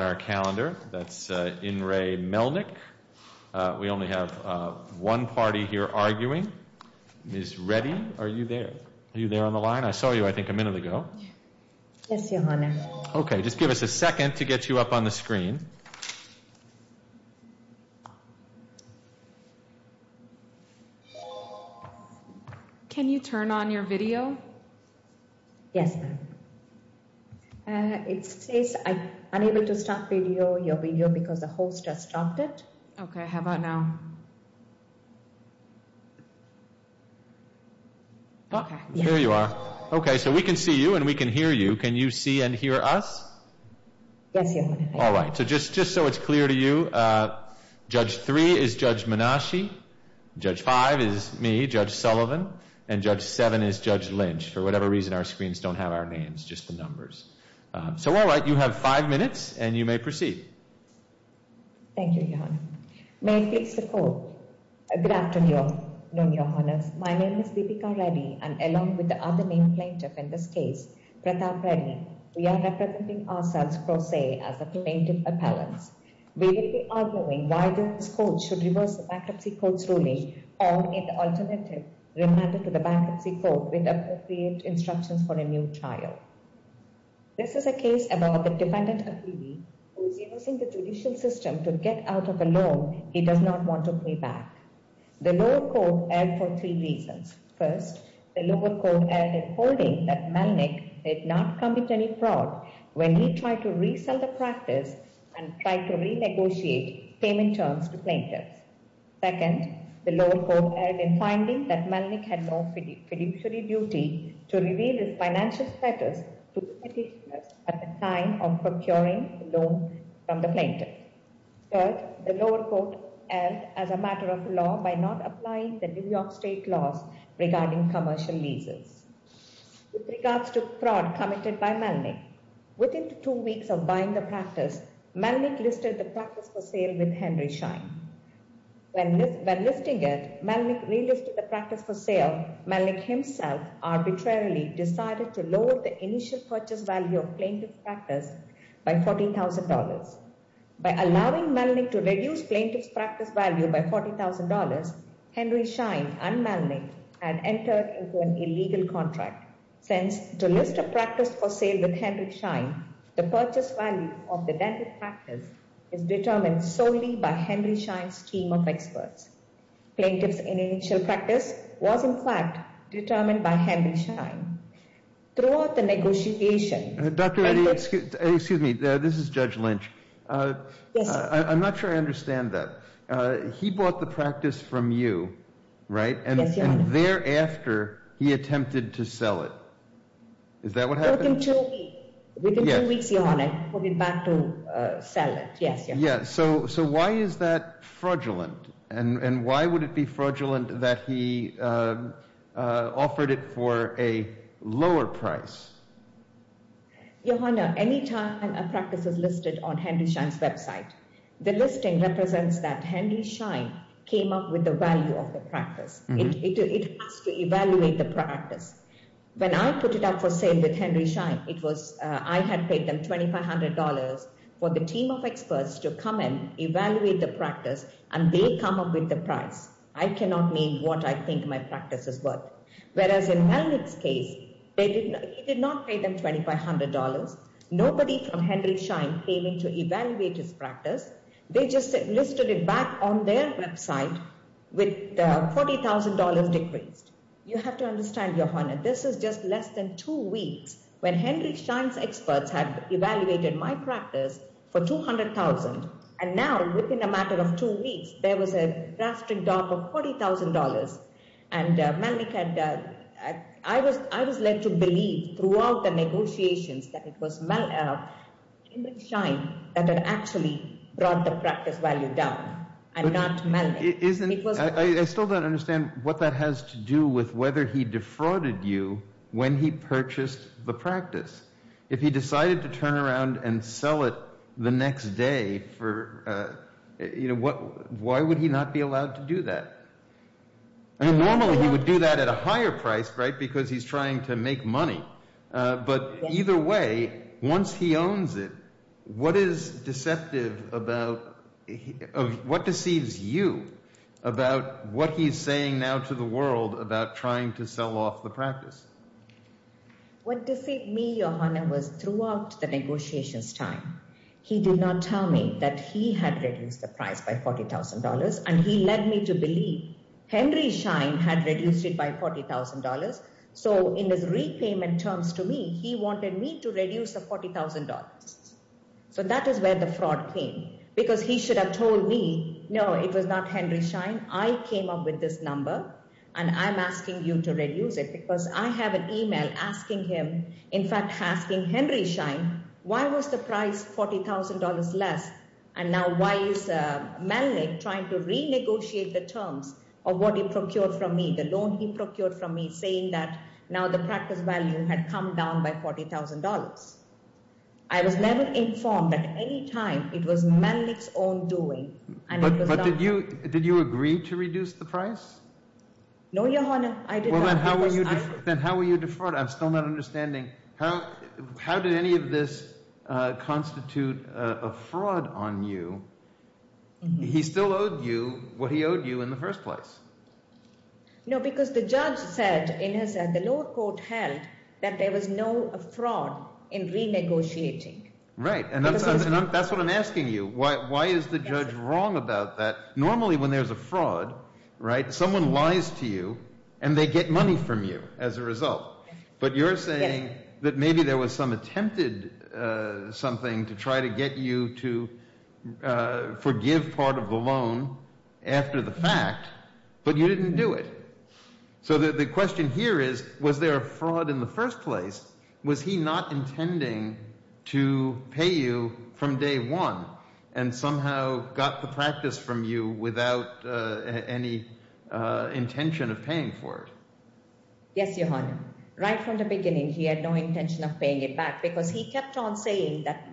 That's In re. Melnik. We only have one party here arguing. Ms. Reddy, are you there? Are you there on the line? I saw you, I think, a minute ago. Yes, Your Honor. Okay, just give us a second to get you up on the screen. Yes, ma'am. It says, unable to start video. Your video because the host has stopped it. Okay, how about now? Here you are. Okay, so we can see you and we can hear you. Can you see and hear us? Yes, Your Honor. All right. So just so it's clear to you, Judge 3 is Judge Menashe, Judge 5 is me, Judge Sullivan, and Judge 7 is Judge Lynch. For whatever reason, our screens don't have our names, just the numbers. So, all right, you have five minutes and you may proceed. Thank you, Your Honor. May it please the Court. Good afternoon, Your Honor. My name is Deepika Reddy and along with the other named plaintiff in this case, Pratap Reddy, we are representing ourselves pro se as the plaintiff appellants. We will be arguing why this Court should reverse the Bankruptcy Court's ruling or make the alternative remanded to the Bankruptcy Court with appropriate instructions for a new trial. This is a case about the defendant appealee who is using the judicial system to get out of a loan he does not want to pay back. The lower court erred for three reasons. First, the lower court erred in holding that Melnick did not commit any fraud when he tried to resell the practice and tried to renegotiate payment terms to plaintiffs. Second, the lower court erred in finding that Melnick had no fiduciary duty to reveal his financial status to the petitioners at the time of procuring the loan from the plaintiff. Third, the lower court erred as a matter of law by not applying the New York State laws regarding commercial leases. With regards to fraud committed by Melnick, within two weeks of buying the practice, Melnick listed the practice for sale with Henry Schein. When listing it, Melnick relisted the practice for sale. Melnick himself arbitrarily decided to lower the initial purchase value of plaintiff's practice by $40,000. By allowing Melnick to reduce plaintiff's practice value by $40,000, Henry Schein and Melnick had entered into an illegal contract. Since to list a practice for sale with Henry Schein, the purchase value of the dental practice is determined solely by Henry Schein's team of experts. Plaintiff's initial practice was, in fact, determined by Henry Schein. Throughout the negotiation, Excuse me, this is Judge Lynch. Yes, sir. I'm not sure I understand that. He bought the practice from you, right? Yes, Your Honor. And thereafter, he attempted to sell it. Is that what happened? Within two weeks. Within two weeks, Your Honor, he put it back to sell it. Yes, Your Honor. So why is that fraudulent? And why would it be fraudulent that he offered it for a lower price? Your Honor, any time a practice is listed on Henry Schein's website, the listing represents that Henry Schein came up with the value of the practice. It has to evaluate the practice. When I put it up for sale with Henry Schein, I had paid them $2,500 for the team of experts to come and evaluate the practice, and they come up with the price. I cannot mean what I think my practice is worth. Whereas in Melnick's case, he did not pay them $2,500. Nobody from Henry Schein came in to evaluate his practice. They just listed it back on their website with $40,000 decreased. You have to understand, Your Honor, this is just less than two weeks when Henry Schein's experts had evaluated my practice for $200,000, and now within a matter of two weeks, there was a drastic drop of $40,000. I was led to believe throughout the negotiations that it was Henry Schein that had actually brought the practice value down and not Melnick. I still don't understand what that has to do with whether he defrauded you when he purchased the practice. If he decided to turn around and sell it the next day, why would he not be allowed to do that? Normally, he would do that at a higher price because he's trying to make money. But either way, once he owns it, what deceives you about what he's saying now to the world about trying to sell off the practice? What deceived me, Your Honor, was throughout the negotiations' time, he did not tell me that he had reduced the price by $40,000, and he led me to believe Henry Schein had reduced it by $40,000. So in his repayment terms to me, he wanted me to reduce the $40,000. So that is where the fraud came. Because he should have told me, no, it was not Henry Schein. I came up with this number, and I'm asking you to reduce it because I have an email asking him, in fact, asking Henry Schein, why was the price $40,000 less? And now why is Melnick trying to renegotiate the terms of what he procured from me, the loan he procured from me, saying that now the practice value had come down by $40,000? I was never informed that at any time it was Melnick's own doing. But did you agree to reduce the price? No, Your Honor, I did not. Then how were you defrauded? I'm still not understanding. How did any of this constitute a fraud on you? He still owed you what he owed you in the first place. No, because the judge said, in his end, the lower court held that there was no fraud in renegotiating. Right, and that's what I'm asking you. Why is the judge wrong about that? Normally when there's a fraud, right, someone lies to you, and they get money from you as a result. But you're saying that maybe there was some attempted something to try to get you to forgive part of the loan after the fact, but you didn't do it. So the question here is, was there a fraud in the first place? Was he not intending to pay you from day one and somehow got the practice from you without any intention of paying for it? Yes, Your Honor. Right from the beginning, he had no intention of paying it back because he kept on saying that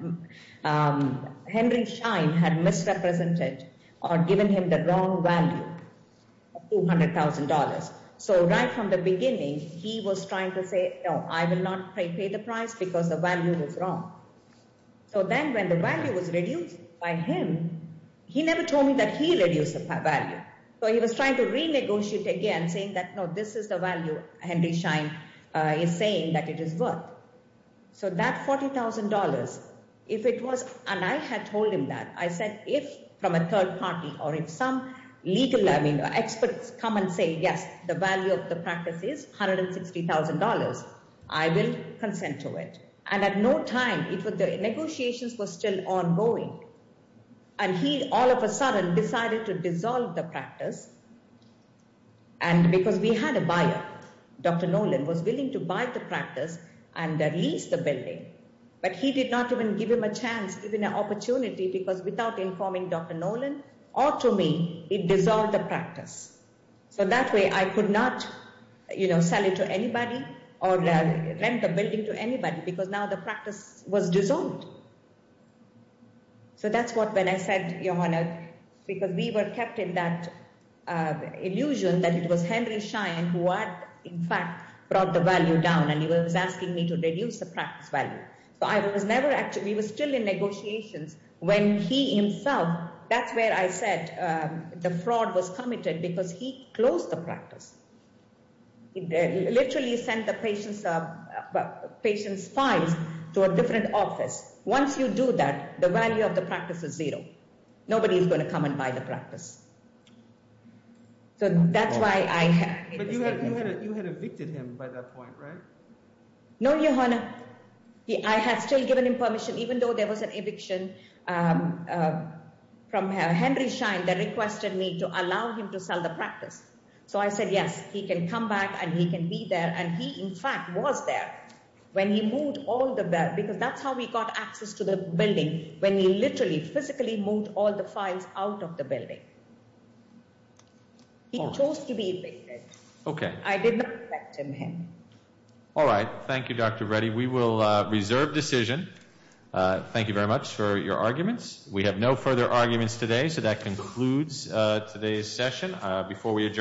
Henry Schein had misrepresented or given him the wrong value of $200,000. So right from the beginning, he was trying to say, no, I will not pay the price because the value was wrong. So then when the value was reduced by him, he never told me that he reduced the value. So he was trying to renegotiate again, saying that, no, this is the value Henry Schein is saying that it is worth. So that $40,000, if it was, and I had told him that, I said, if from a third party or if some legal experts come and say, yes, the value of the practice is $160,000, I will consent to it. And at no time, the negotiations were still ongoing. And he all of a sudden decided to dissolve the practice. And because we had a buyer, Dr. Nolan was willing to buy the practice and lease the building. But he did not even give him a chance, even an opportunity, because without informing Dr. Nolan or to me, it dissolved the practice. So that way I could not sell it to anybody or rent the building to anybody because now the practice was dissolved. So that's what when I said, Johanna, because we were kept in that illusion that it was Henry Schein who had, in fact, brought the value down and he was asking me to reduce the practice value. So I was never actually, we were still in negotiations when he himself, that's where I said the fraud was committed because he closed the practice. He literally sent the patient's files to a different office. Once you do that, the value of the practice is zero. Nobody is going to come and buy the practice. So that's why I had to say that. But you had evicted him by that point, right? No, Johanna, I had still given him permission, even though there was an eviction from Henry Schein that requested me to allow him to sell the practice. So I said, yes, he can come back and he can be there. And he, in fact, was there when he moved all the, because that's how we got access to the building, when he literally physically moved all the files out of the building. He chose to be evicted. Okay. I did not evict him then. All right. Thank you, Dr. Reddy. We will reserve decision. Thank you very much for your arguments. We have no further arguments today, so that concludes today's session. Before we adjourn.